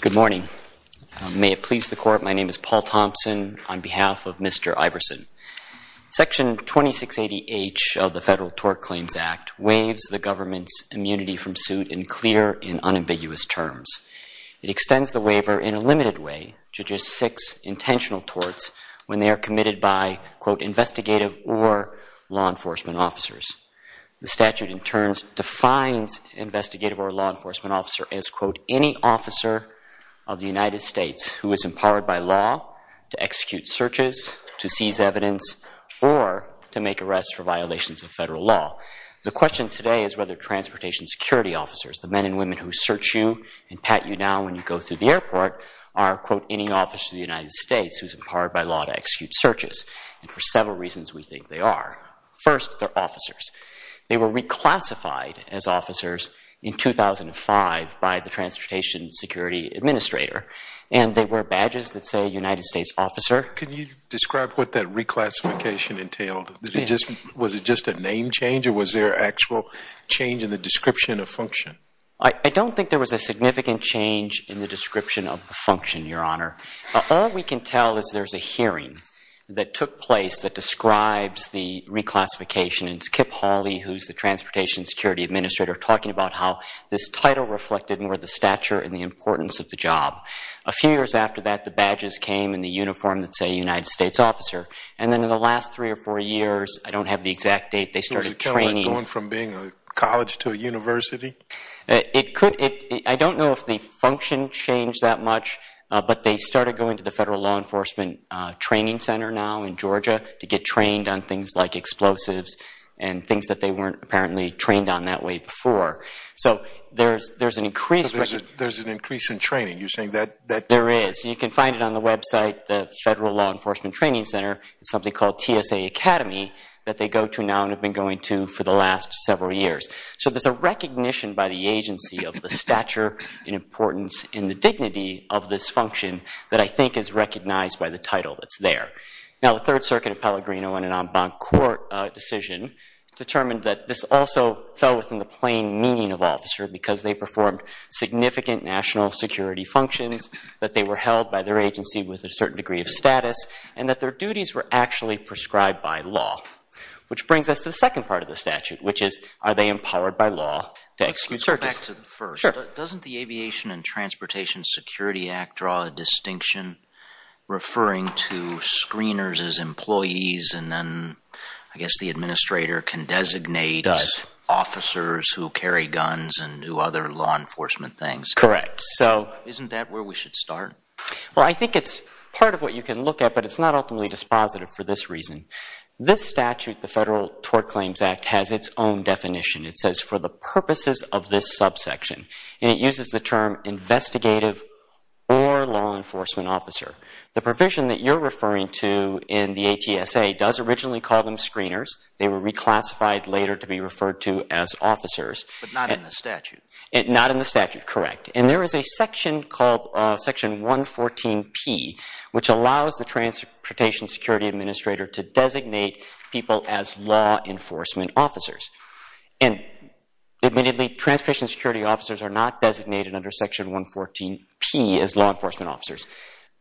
Good morning. May it please the Court, my name is Paul Thompson on behalf of Mr. Iverson. Section 2680H of the Federal Tort Claims Act waives the government's immunity from suit in clear and unambiguous terms. It extends the waiver in a limited way to just six intentional torts when they are committed by, quote, investigative or law enforcement officers. The statute in as, quote, any officer of the United States who is empowered by law to execute searches, to seize evidence, or to make arrests for violations of federal law. The question today is whether transportation security officers, the men and women who search you and pat you now when you go through the airport, are, quote, any officer of the United States who is empowered by law to execute searches. And for several reasons we think they are. First, they're officers. They were reclassified as officers in 2005 by the Transportation Security Administrator. And they wear badges that say United States Officer. Can you describe what that reclassification entailed? Was it just a name change or was there actual change in the description of function? I don't think there was a significant change in the description of the function, Your Honor. All we can tell is there's a hearing that took place that describes the reclassification. And it's Kip Hawley, who's the Transportation Security Administrator, talking about how this title reflected more the stature and the importance of the job. A few years after that the badges came in the uniform that said United States Officer. And then in the last three or four years, I don't have the exact date, they started training. I don't know if the function changed that much, but they started going to the Federal Law Enforcement Training Center now in Georgia to get trained on things like explosives and things that they weren't apparently trained on that way before. So there's an increase in training. You're saying that... There is. You can find it on the website, the Federal Law Enforcement Training Center. It's something called TSA Academy that they go to now and have been going to for the last several years. So there's a recognition by the agency of the stature and importance and the dignity of this function that I think is recognized by the title that's there. Now the Third Circuit of Pellegrino, in an en banc court decision, determined that this also fell within the plain meaning of officer because they performed significant national security functions, that they were held by their agency with a certain degree of status, and that their duties were actually prescribed by law. Which brings us to the second part of the statute, which is, are they empowered by law to execute searches? Let's go back to the first. Doesn't the Aviation and Transportation Security Act draw a distinction referring to screeners as employees and then, I guess, the administrator can designate officers who carry guns and do other law enforcement things? Correct. Isn't that where we should start? I think it's part of what you can look at, but it's not ultimately dispositive for this reason. This statute, the Federal Tort Claims Act, has its own definition. It says, for the purposes of this subsection. And it uses the term investigative or law enforcement officer. The provision that you're referring to in the ATSA does originally call them screeners. They were reclassified later to be referred to as officers. But not in the statute. Not in the statute, correct. And there is a section called Section 114P, which allows the transportation security administrator to designate people as law enforcement officers. And admittedly, transportation security officers are not designated under Section 114P as law enforcement officers.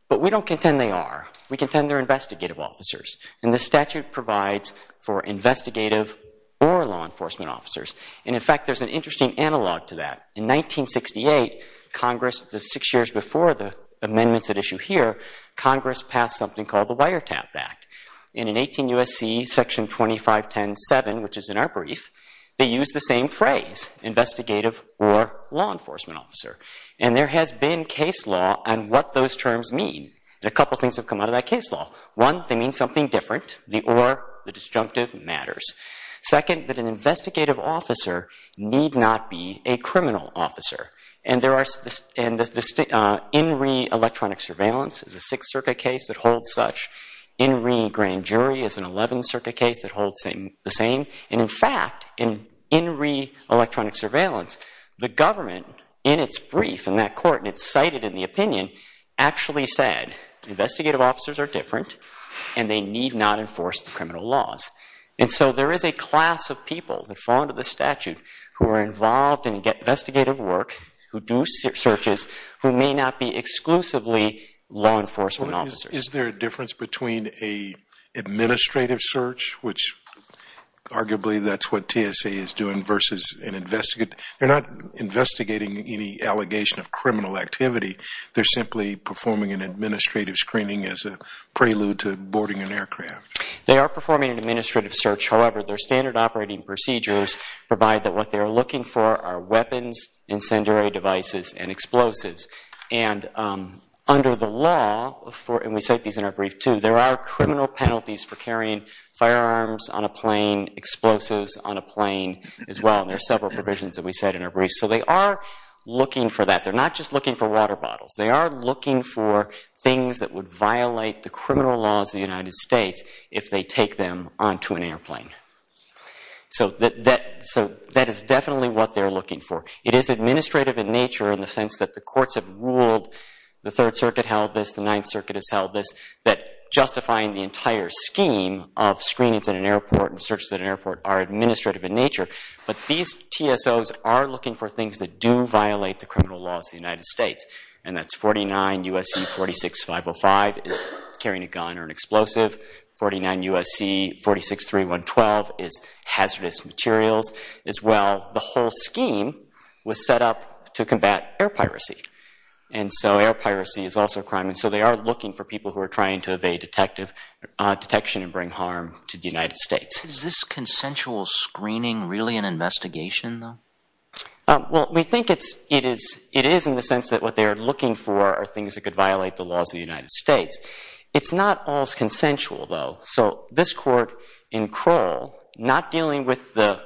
But we don't contend they are. We contend they're investigative officers. And the statute provides for investigative or law enforcement officers. And in fact, there's an interesting analog to that. In 1968, Congress, six years before the amendments at issue here, Congress passed something called the Wiretap Act. In an 18 U.S.C. Section 2510.7, which is in our brief, they use the same phrase, investigative or law enforcement officer. And there has been case law on what those terms mean. A couple things have come out of that case law. The or, the disjunctive, matters. Second, that an investigative officer need not be a criminal officer. And there are, and the In Re Electronic Surveillance is a Sixth Circuit case that holds such. In Re Grand Jury is an Eleventh Circuit case that holds the same. And in fact, in In Re Electronic Surveillance, the government, in its brief, in that court, and it's cited in the opinion, actually said investigative officers are different and they need not enforce the criminal laws. And so there is a class of people that fall under the statute who are involved in investigative work, who do searches, who may not be exclusively law enforcement officers. Is there a difference between an administrative search, which arguably that's what TSA is doing, versus an investigative, they're not investigating any allegation of criminal activity. They're simply performing an administrative screening as a prelude to boarding an aircraft. They are performing an administrative search. However, their standard operating procedures provide that what they are looking for are weapons, incendiary devices, and explosives. And under the law, and we cite these in our brief too, there are criminal penalties for carrying firearms on a plane, explosives on a plane as well. And there are several provisions that we said in our brief. So they are looking for that. They're not just looking for water bottles. They are looking for things that would violate the criminal laws of the United States if they take them onto an airplane. So that is definitely what they're looking for. It is administrative in nature in the sense that the courts have ruled, the Third Circuit held this, the Ninth Circuit has held this, that justifying the entire scheme of screenings at an airport and searches at an airport are administrative in nature. But these TSOs are looking for things that do violate the criminal laws of the United States. And that's 49 U.S.C. 46505 is carrying a gun or an explosive, 49 U.S.C. 463112 is hazardous materials as well. The whole scheme was set up to combat air piracy. And so air piracy is also a crime. And so they are looking for people who are trying to evade detection and bring harm to the United States. Is this consensual screening really an investigation though? Well, we think it is in the sense that what they are looking for are things that could violate the laws of the United States. It's not always consensual though. So this court in Kroll, not dealing with the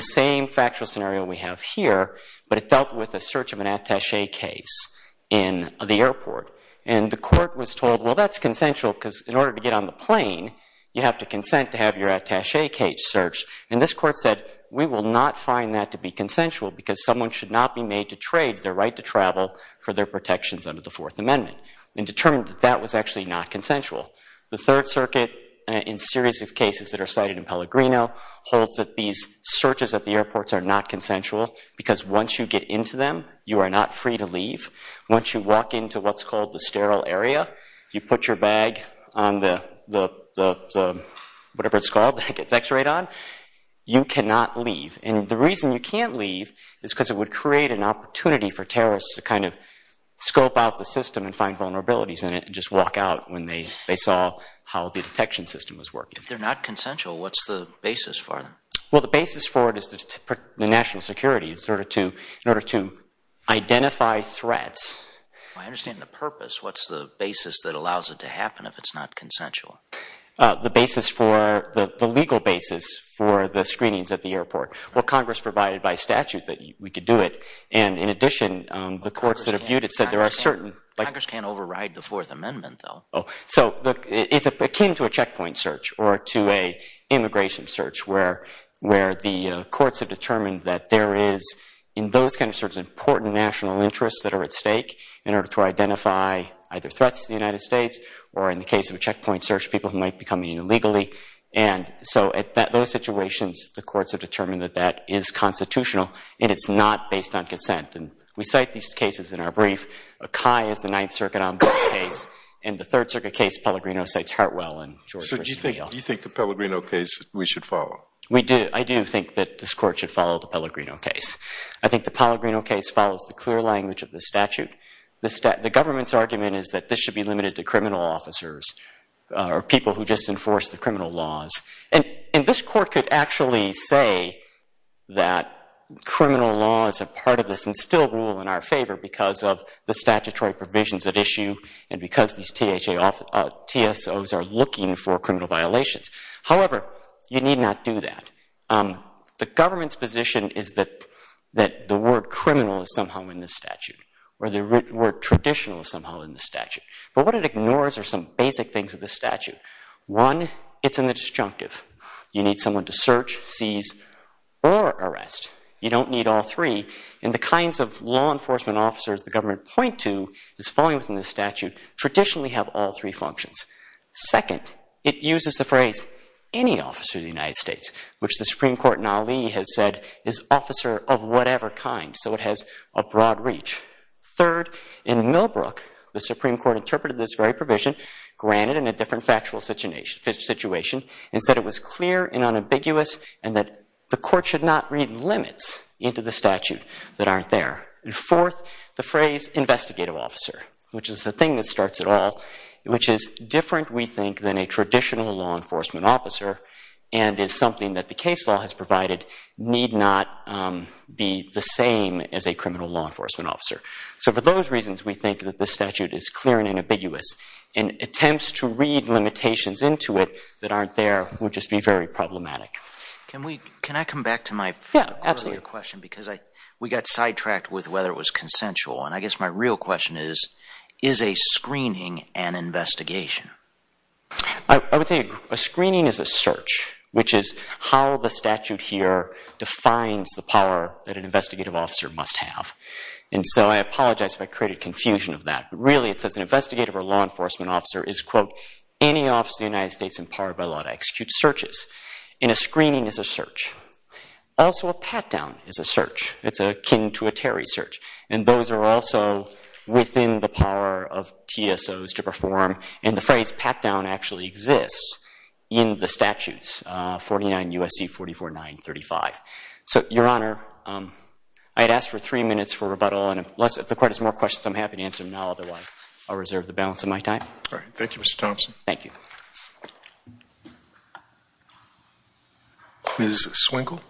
same factual scenario we have here, but it dealt with a search of an attache case in the airport. And the court was told, well, that's consensual because in order to get on the plane, you have to consent to have your attache case searched. And this court said, we will not find that to be consensual because someone should not be made to trade their right to travel for their protections under the Fourth Amendment. And determined that that was actually not consensual. The Third Circuit, in a series of cases that are cited in Pellegrino, holds that these searches at the airports are not consensual because once you get into them, you are not free to leave. Once you walk into what's called the sterile area, you put your bag on the whatever it's X-rayed on, you cannot leave. And the reason you can't leave is because it would create an opportunity for terrorists to kind of scope out the system and find vulnerabilities in it and just walk out when they saw how the detection system was working. If they're not consensual, what's the basis for them? Well, the basis for it is the national security. It's in order to identify threats. I understand the purpose. What's the basis that allows it to happen if it's not consensual? The basis for, the legal basis for the screenings at the airport. Well, Congress provided by statute that we could do it. And in addition, the courts that have viewed it said there are certain... Congress can't override the Fourth Amendment, though. So it's akin to a checkpoint search or to a immigration search where the courts have determined that there is, in those kinds of searches, important national interests that are at stake in order to identify either threats to the United States or in the case of a checkpoint search, people who might be coming in illegally. And so at those situations, the courts have determined that that is constitutional and it's not based on consent. And we cite these cases in our brief. Akai is the Ninth Circuit case, and the Third Circuit case, Pellegrino, cites Hartwell and George Christie. So do you think the Pellegrino case we should follow? We do. I do think that this court should follow the Pellegrino case. I think the Pellegrino case follows the clear language of the statute. The government's argument is that this should be limited to criminal officers or people who just enforce the criminal laws. And this court could actually say that criminal law is a part of this and still rule in our favor because of the statutory provisions at issue and because these TSOs are looking for criminal violations. However, you need not do that. The government's position is that the word criminal is somehow in the statute or the word traditional is somehow in the statute. But what it ignores are some basic things of the statute. One, it's in the disjunctive. You need someone to search, seize, or arrest. You don't need all three. And the kinds of law enforcement officers the government point to as falling within the statute traditionally have all three functions. Second, it uses the phrase, any officer of the United States, which the Supreme Court in Ali has said is officer of whatever kind. So it has a broad reach. Third, in Millbrook, the Supreme Court interpreted this very provision, granted in a different factual situation, and said it was clear and unambiguous and that the court should not read limits into the statute that aren't there. And fourth, the phrase investigative officer, which is the thing that starts it all, which is different, we think, than a traditional law enforcement officer and is something that the case law has provided need not be the same as a criminal law enforcement officer. So for those reasons, we think that the statute is clear and unambiguous. And attempts to read limitations into it that aren't there would just be very problematic. Can I come back to my earlier question? Because we got sidetracked with whether it was consensual. And I guess my real question is, is a screening an investigation? I would say a screening is a search, which is how the statute here defines the power that an investigative officer must have. And so I apologize if I created confusion of that. Really it says an investigative or law enforcement officer is, quote, any officer of the United States empowered by law to execute searches. And a screening is a search. Also a pat-down is a search. It's akin to a Terry search. And those are also within the power of TSOs to perform. And the phrase pat-down actually exists in the statutes, 49 U.S.C. 44935. So, Your Honor, I'd ask for three minutes for rebuttal. And if the court has more questions, I'm happy to answer them now. Otherwise, I'll reserve the balance of my time. All right. Thank you, Mr. Thompson. Thank you. Ms. Swinkle?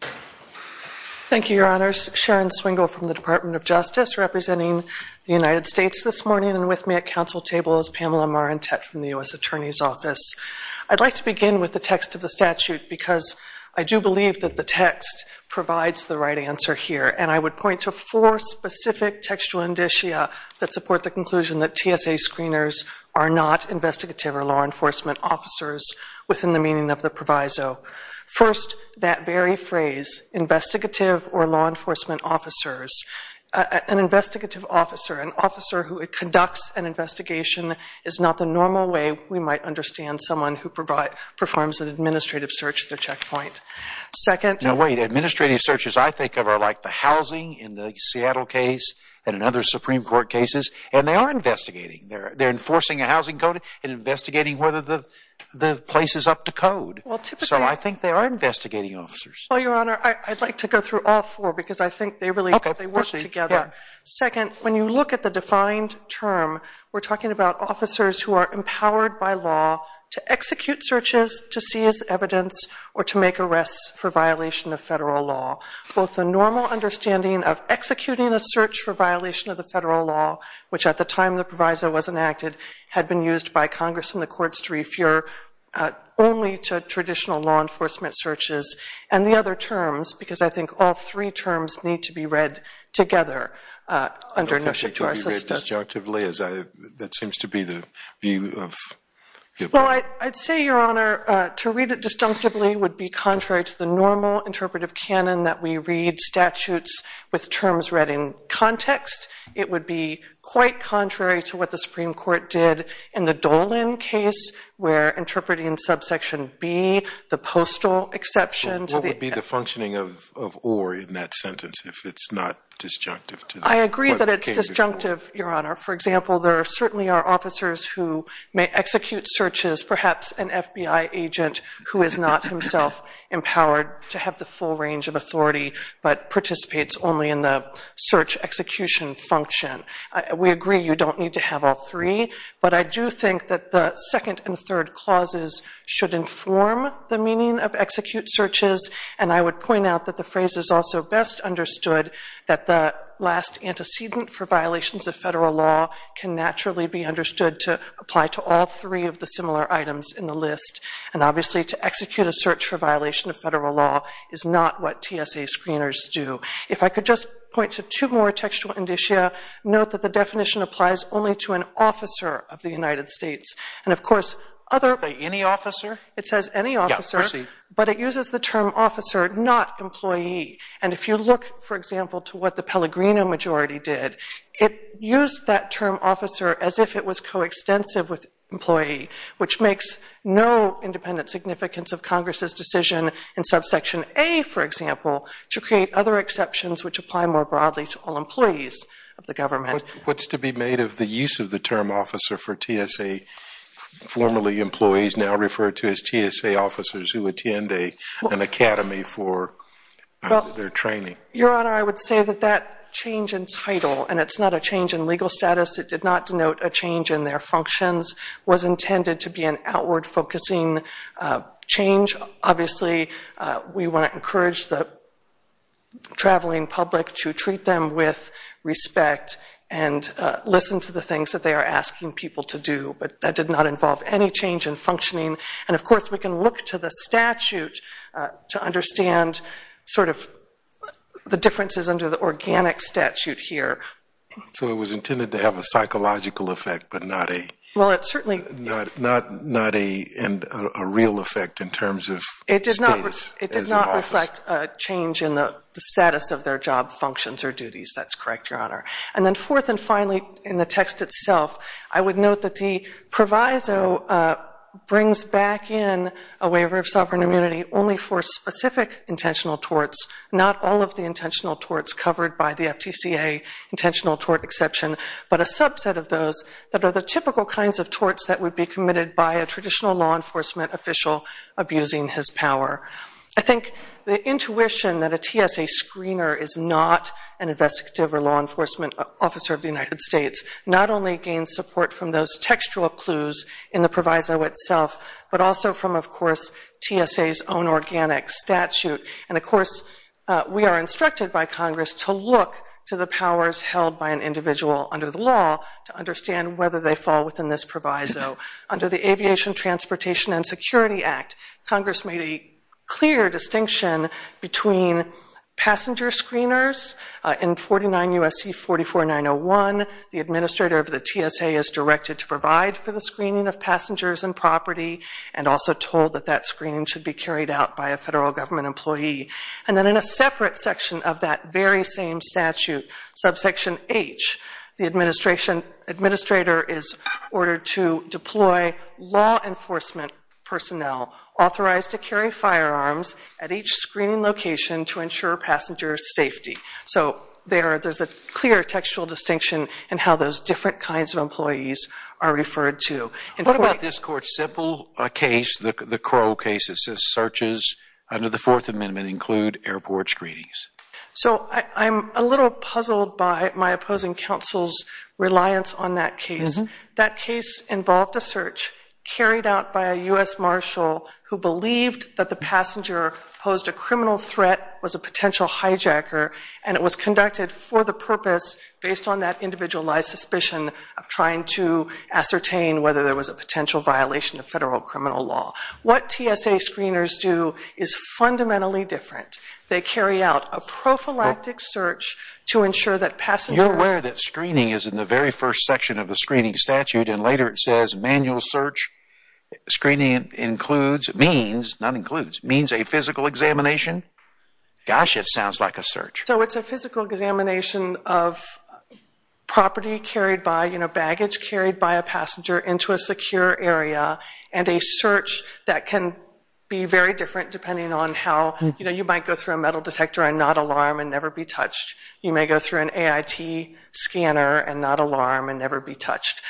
Thank you, Your Honors. Sharon Swinkle from the Department of Justice representing the United States this morning and with me at council table is Pamela Marantette from the U.S. Attorney's Office. I'd like to begin with the text of the statute because I do believe that the text provides the right answer here. And I would point to four specific textual indicia that support the conclusion that TSA screeners are not investigative or law enforcement officers within the meaning of the proviso. First, that very phrase, investigative or law enforcement officers. An investigative officer, an officer who conducts an investigation, is not the normal way we might understand someone who performs an administrative search at their checkpoint. Second- No, wait. Administrative searches I think of are like the housing in the Seattle case and in other Supreme Court cases. And they are investigating. They're enforcing a housing code and investigating whether the place is up to code. So I think they are investigating officers. Well, Your Honor, I'd like to go through all four because I think they really work together. Second, when you look at the defined term, we're talking about officers who are empowered by law to execute searches to seize evidence or to make arrests for violation of federal law. Both the normal understanding of executing a search for violation of the federal law, which at the time the proviso was enacted, had been used by Congress and the courts to refer only to traditional law enforcement searches. And the other terms, because I think all three terms need to be read together under- I don't think they can be read disjunctively as I- that seems to be the view of- Well, I'd say, Your Honor, to read it disjunctively would be contrary to the normal interpretive canon that we read statutes with terms read in context. It would be quite contrary to what the Supreme Court did in the Dolan case where interpreting in subsection B, the postal exception to the- What would be the functioning of or in that sentence if it's not disjunctive to- I agree that it's disjunctive, Your Honor. For example, there certainly are officers who may execute searches, perhaps an FBI agent who is not himself empowered to have the full range of authority but participates only in the search execution function. We agree you don't need to have all three, but I do think that the second and third clauses should inform the meaning of execute searches. And I would point out that the phrase is also best understood that the last antecedent for violations of federal law can naturally be understood to apply to all three of the similar items in the list. And obviously, to execute a search for violation of federal law is not what TSA screeners do. If I could just point to two more textual indicia, note that the definition applies only to an officer of the United States. And of course, other- Any officer? It says any officer, but it uses the term officer, not employee. And if you look, for example, to what the Pellegrino majority did, it used that term officer as if it was coextensive with employee, which makes no independent significance of Congress's decision in subsection A, for example, to create other exceptions which apply more broadly to all employees of the government. What's to be made of the use of the term officer for TSA, formerly employees now referred to as TSA officers who attend an academy for their training? Your Honor, I would say that that change in title, and it's not a change in legal status, it did not denote a change in their functions, was intended to be an outward-focusing change. Obviously, we want to encourage the traveling public to treat them with respect and listen to the things that they are asking people to do, but that did not involve any change in functioning. And of course, we can look to the statute to understand sort of the differences under the organic statute here. So it was intended to have a psychological effect, but not a real effect in terms of status? It did not reflect a change in the status of their job functions or duties. That's correct, Your Honor. And then fourth and finally, in the text itself, I would note that the proviso brings back in a waiver of sovereign immunity only for specific intentional torts, not all of the intentional torts covered by the FTCA. Intentional tort exception, but a subset of those that are the typical kinds of torts that would be committed by a traditional law enforcement official abusing his power. I think the intuition that a TSA screener is not an investigative or law enforcement officer of the United States not only gains support from those textual clues in the proviso itself, but also from, of course, TSA's own organic statute. And of course, we are instructed by Congress to look to the powers held by an individual under the law to understand whether they fall within this proviso. Under the Aviation, Transportation, and Security Act, Congress made a clear distinction between passenger screeners in 49 U.S.C. 44901. The administrator of the TSA is directed to provide for the screening of passengers and property and also told that that screening should be carried out by a federal government employee. And then in a separate section of that very same statute, subsection H, the administrator is ordered to deploy law enforcement personnel authorized to carry firearms at each screening location to ensure passenger safety. So there's a clear textual distinction in how those different kinds of employees are referred to. And what about this court's simple case, the Crow case, it says searches under the Fourth Amendment include airport screenings. So I'm a little puzzled by my opposing counsel's reliance on that case. That case involved a search carried out by a U.S. marshal who believed that the passenger posed a criminal threat, was a potential hijacker, and it was conducted for the purpose based on that individualized suspicion of trying to ascertain whether there was a potential violation of federal criminal law. What TSA screeners do is fundamentally different. They carry out a prophylactic search to ensure that passengers... You're aware that screening is in the very first section of the screening statute and later it says manual search screening includes, means, not includes, means a physical examination? Gosh, it sounds like a search. So it's a physical examination of property carried by, you know, baggage carried by a passenger into a secure area and a search that can be very different depending on how, you know, you might go through a metal detector and not alarm and never be touched. You may go through an AIT scanner and not alarm and never be touched.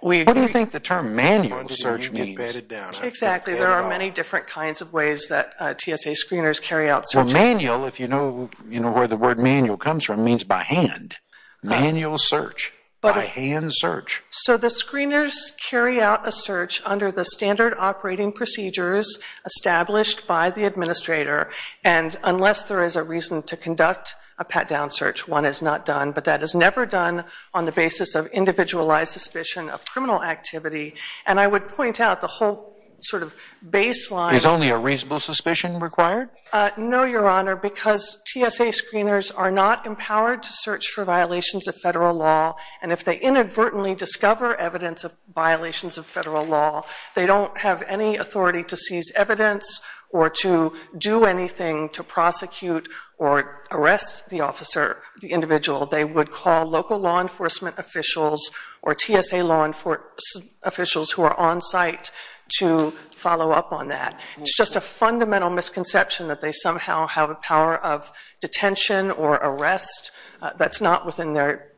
What do you think the term manual search means? Exactly. There are many different kinds of ways that TSA screeners carry out searches. Well, manual, if you know where the word manual comes from, means by hand. Manual search, by hand search. So the screeners carry out a search under the standard operating procedures established by the administrator and unless there is a reason to conduct a pat-down search, one is not done, but that is never done on the basis of individualized suspicion of criminal activity. And I would point out the whole sort of baseline... Is only a reasonable suspicion required? No, Your Honor, because TSA screeners are not empowered to search for violations of federal law and if they inadvertently discover evidence of violations of federal law, they don't have any authority to seize evidence or to do anything to prosecute or arrest the officer, the individual. They would call local law enforcement officials or TSA law enforcement officials who are on site to follow up on that. It's just a fundamental misconception that they somehow have a power of detention or arrest that's not within their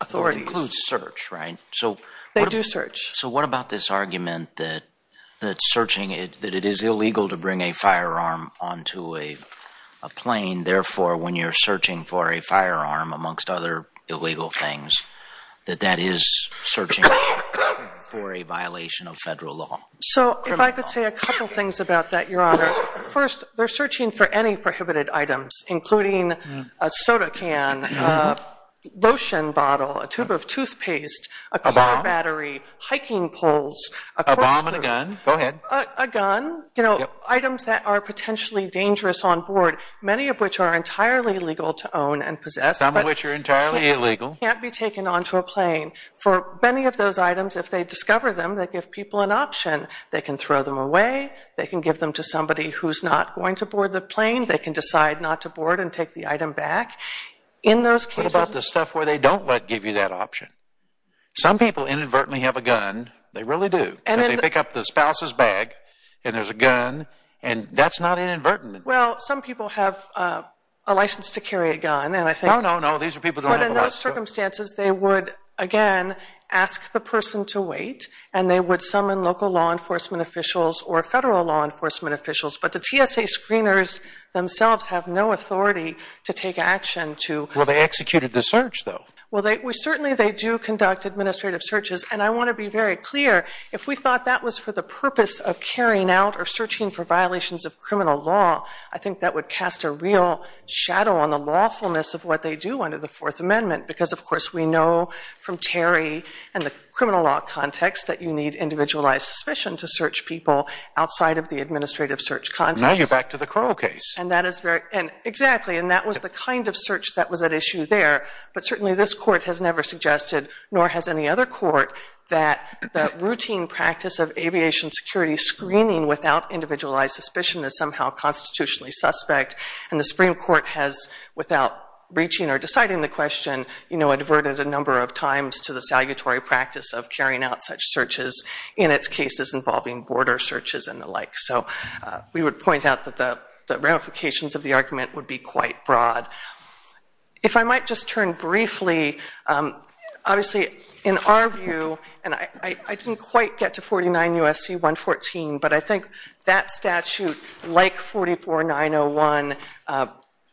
authority. It includes search, right? So... They do search. So what about this argument that searching, that it is illegal to bring a firearm onto a plane, therefore when you're searching for a firearm, amongst other illegal things, that that is searching for a violation of federal law? So if I could say a couple things about that, Your Honor. First, they're searching for any prohibited items, including a soda can, a lotion bottle, a tube of toothpaste, a car battery, hiking poles, a... A bomb and a gun. Go ahead. A gun, you know, items that are potentially dangerous on board, many of which are entirely legal to own and possess... ...can't be taken onto a plane. For many of those items, if they discover them, they give people an option. They can throw them away. They can give them to somebody who's not going to board the plane. They can decide not to board and take the item back. In those cases... What about the stuff where they don't let give you that option? Some people inadvertently have a gun. They really do. And then they pick up the spouse's bag, and there's a gun, and that's not inadvertent. Well, some people have a license to carry a gun, and I think... No, no, no. These are people who don't have a license to... ...in those circumstances, they would, again, ask the person to wait, and they would summon local law enforcement officials or federal law enforcement officials. But the TSA screeners themselves have no authority to take action to... Well, they executed the search, though. Well, certainly, they do conduct administrative searches. And I want to be very clear, if we thought that was for the purpose of carrying out or searching for violations of criminal law, I think that would cast a real shadow on the lawfulness of what they do under the Fourth Amendment, because, of course, we know from Terry and the criminal law context that you need individualized suspicion to search people outside of the administrative search context. Now you're back to the Crowe case. And that is very... And exactly. And that was the kind of search that was at issue there. But certainly, this court has never suggested, nor has any other court, that the routine practice of aviation security screening without individualized suspicion is somehow constitutionally suspect. And the Supreme Court has, without reaching or deciding the question, you know, adverted a number of times to the salutary practice of carrying out such searches in its cases involving border searches and the like. So we would point out that the ramifications of the argument would be quite broad. If I might just turn briefly, obviously, in our view, and I didn't quite get to 49 U.S.C. 114, but I think that statute, like 44901,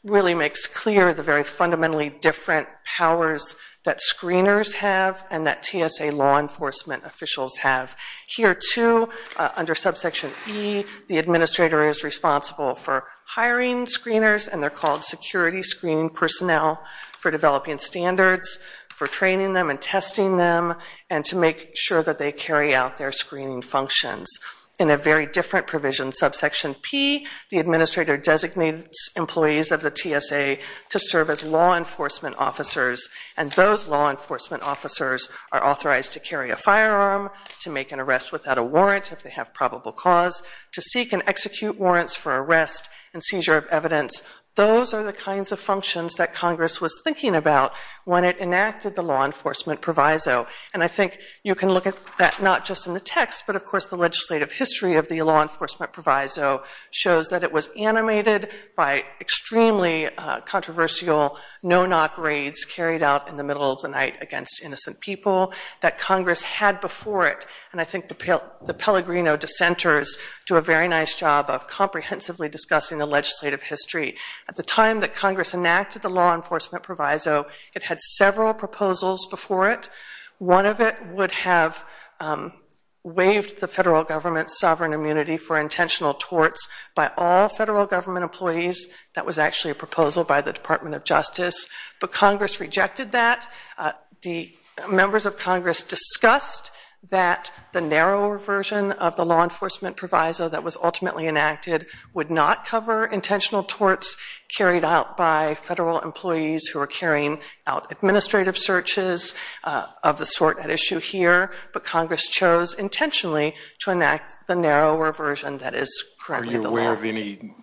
really makes clear the very fundamentally different powers that screeners have and that TSA law enforcement officials have. Here, too, under subsection E, the administrator is responsible for hiring screeners, and they're called security screening personnel for developing standards, for training them and testing them, and to make sure that they carry out their screening functions. In a very different provision, subsection P, the administrator designates employees of the TSA to serve as law enforcement officers, and those law enforcement officers are authorized to carry a firearm, to make an arrest without a warrant if they have probable cause, to seek and execute warrants for arrest and seizure of evidence. Those are the kinds of functions that Congress was thinking about when it enacted the law enforcement proviso. And I think you can look at that not just in the text, but, of course, the legislative history of the law enforcement proviso shows that it was animated by extremely controversial no-knock raids carried out in the middle of the night against innocent people that Congress had before it, and I think the Pellegrino dissenters do a very nice job of comprehensively discussing the legislative history. At the time that Congress enacted the law enforcement proviso, it had several proposals before it. One of it would have waived the federal government's sovereign immunity for intentional torts by all federal government employees. That was actually a proposal by the Department of Justice, but Congress rejected that. The members of Congress discussed that the narrower version of the law enforcement proviso that was ultimately enacted would not cover intentional torts carried out by federal employees who are carrying out administrative searches of the sort at issue here, but Congress chose intentionally to enact the narrower version that is currently the law. Are you aware of any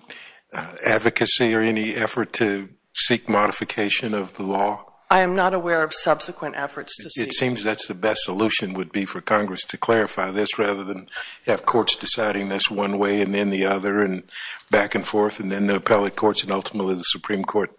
advocacy or any effort to seek modification of the law? I am not aware of subsequent efforts to seek... It seems that's the best solution would be for Congress to clarify this rather than have courts deciding this one way and then the other and back and forth and then the appellate courts and ultimately the Supreme Court.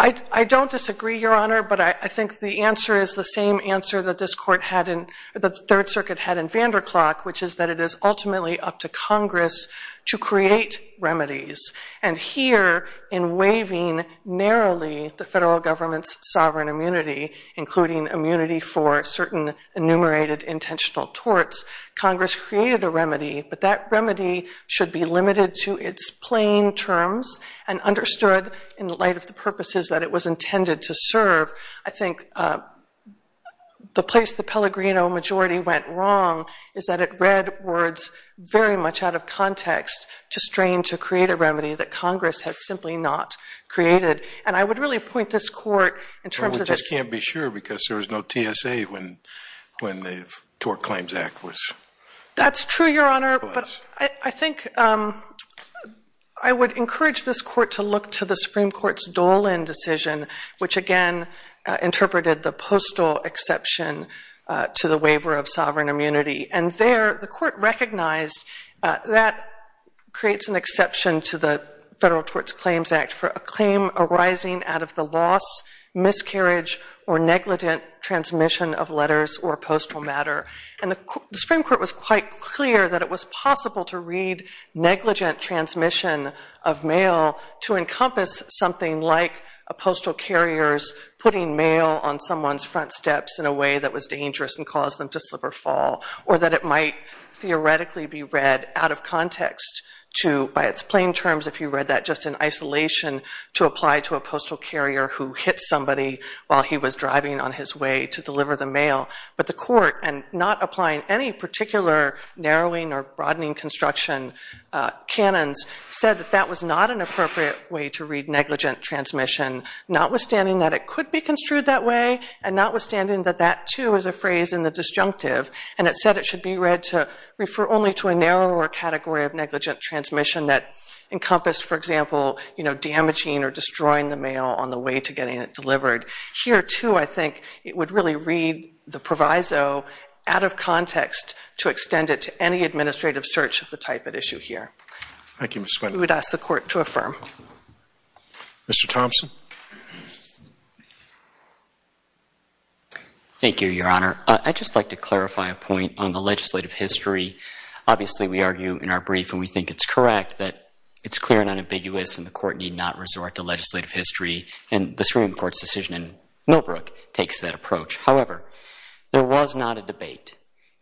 I don't disagree, Your Honor, but I think the answer is the same answer that this court had in... that the Third Circuit had in Vanderklok, which is that it is ultimately up to Congress to create remedies. And here, in waiving narrowly the federal government's sovereign immunity, including immunity for certain enumerated intentional torts, Congress created a remedy, but that remedy should be limited to its plain terms and understood in light of the purposes that it was intended to serve. I think the place the Pellegrino majority went wrong is that it read words very much out of context to strain to create a remedy that Congress has simply not created. And I would really point this court in terms of... Which I can't be sure because there was no TSA when the Tort Claims Act was... That's true, Your Honor, but I think... I would urge this court to look to the Supreme Court's Dolan decision, which, again, interpreted the postal exception to the waiver of sovereign immunity. And there, the court recognized that creates an exception to the federal Torts Claims Act for a claim arising out of the loss, miscarriage or negligent transmission of letters or postal matter. And the Supreme Court was quite clear that it was possible to read negligent transmission of mail to encompass something like a postal carrier's putting mail on someone's front steps in a way that was dangerous and caused them to slip or fall, or that it might theoretically be read out of context to... By its plain terms, if you read that just in isolation, to apply to a postal carrier who hit somebody while he was driving on his way to deliver the mail. But the court, and not applying any particular narrowing or broadening construction canons, said that that was not an appropriate way to read negligent transmission, notwithstanding that it could be construed that way and notwithstanding that that, too, is a phrase in the disjunctive. And it said it should be read to refer only to a narrower category of negligent transmission that encompassed, for example, damaging or destroying the mail on the way to getting it delivered. Here, too, I think it would really read the proviso out of context to extend it to any administrative search of the type at issue here. Thank you, Ms. Swinton. We would ask the court to affirm. Mr. Thompson? Thank you, Your Honour. I'd just like to clarify a point on the legislative history. Obviously, we argue in our brief, and we think it's correct, that it's clear and unambiguous and the court need not resort to legislative history. And the Supreme Court's decision in Millbrook takes that approach. However, there was not a debate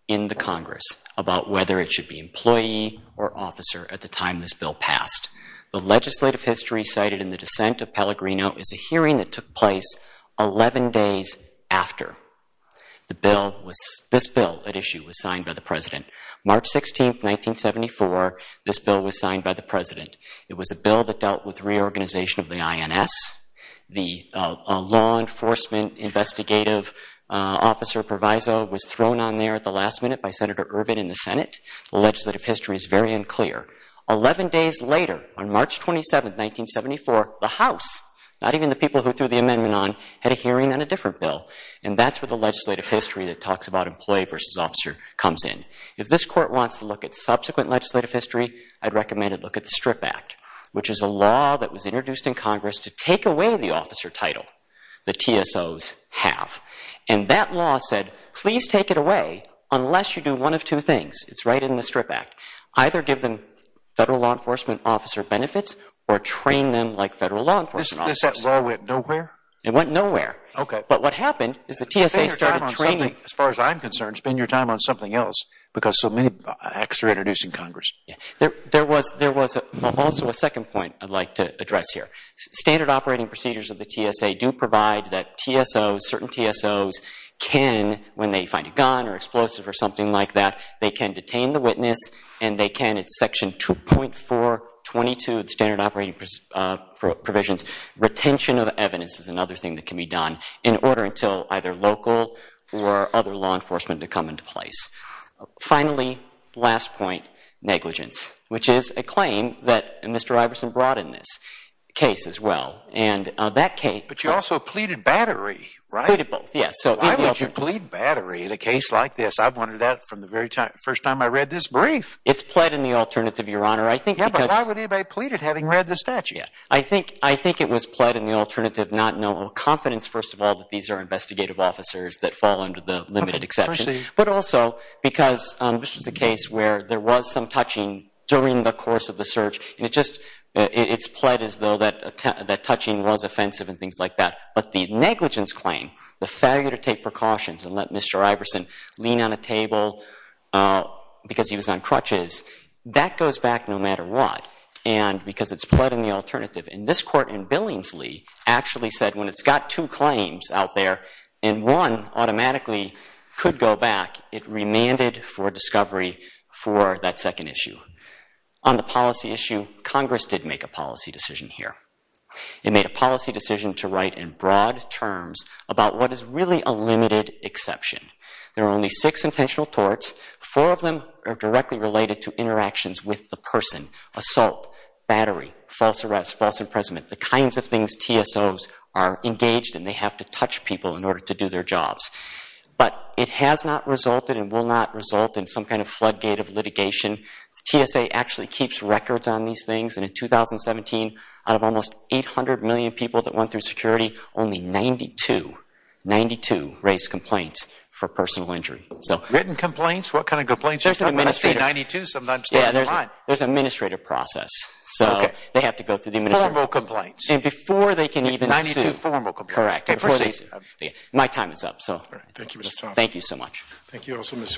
in the Congress about whether it should be employee or officer at the time this bill passed. The legislative history cited in the dissent of Pellegrino is a hearing that took place 11 days after this bill at issue was signed by the President. March 16, 1974, this bill was signed by the President. It was a bill that dealt with reorganization of the INS. The law enforcement investigative officer proviso was thrown on there at the last minute by Senator Ervin in the Senate. The legislative history is very unclear. 11 days later, on March 27, 1974, the House, not even the people who threw the amendment on, had a hearing on a different bill. And that's where the legislative history that talks about employee versus officer comes in. If this court wants to look at subsequent legislative history, I'd recommend it look at the STRIP Act, which is a law that was introduced in Congress to take away the officer title that TSOs have. And that law said, please take it away unless you do one of two things. It's right in the STRIP Act. Either give them federal law enforcement officer benefits or train them like federal law enforcement officers. This law went nowhere? It went nowhere. Okay. But what happened is the TSA started training. As far as I'm concerned, spend your time on something else because so many acts are introduced in Congress. There was also a second point I'd like to address here. Standard operating procedures of the TSA do provide that certain TSOs can, when they find a gun or explosive or something like that, they can detain the witness. And they can at section 2.422 of the standard operating provisions. Retention of evidence is another thing that can be done in order until either local or other law enforcement to come into place. Finally, last point, negligence, which is a claim that Mr. Iverson brought in this case as well. And that case- But you also pleaded battery, right? Pleaded both, yes. Why would you plead battery in a case like this? I've wondered that from the first time I read this brief. It's pled in the alternative, Your Honor. I think because- Yeah, but why would anybody plead it having read the statute? I think it was pled in the alternative, not knowing confidence, first of all, that these are investigative officers that fall under the limited exception. But also because this was a case where there was some touching during the course of the search. And it's pled as though that touching was offensive and things like that. But the negligence claim, the failure to take precautions and let Mr. Iverson lean on a table because he was on crutches, that goes back no matter what. And because it's pled in the alternative. And this court in Billingsley actually said when it's got two claims out there, and one automatically could go back, it remanded for discovery for that second issue. On the policy issue, Congress did make a policy decision here. It made a policy decision to write in broad terms about what is really a limited exception. There are only six intentional torts. Four of them are directly related to interactions with the person. Assault, battery, false arrest, false imprisonment, the kinds of things TSOs are engaged in. They have to touch people in order to do their jobs. But it has not resulted and will not result in some kind of floodgate of litigation. TSA actually keeps records on these things. And in 2017, out of almost 800 million people that went through security, only 92, 92 raised complaints for personal injury. Written complaints? What kind of complaints? I see 92 sometimes. Yeah, there's an administrative process. So they have to go through the administrative process. Formal complaints. And before they can even sue. Correct. Before they sue. My time is up, so thank you so much. Thank you. Also, Ms. Swenson.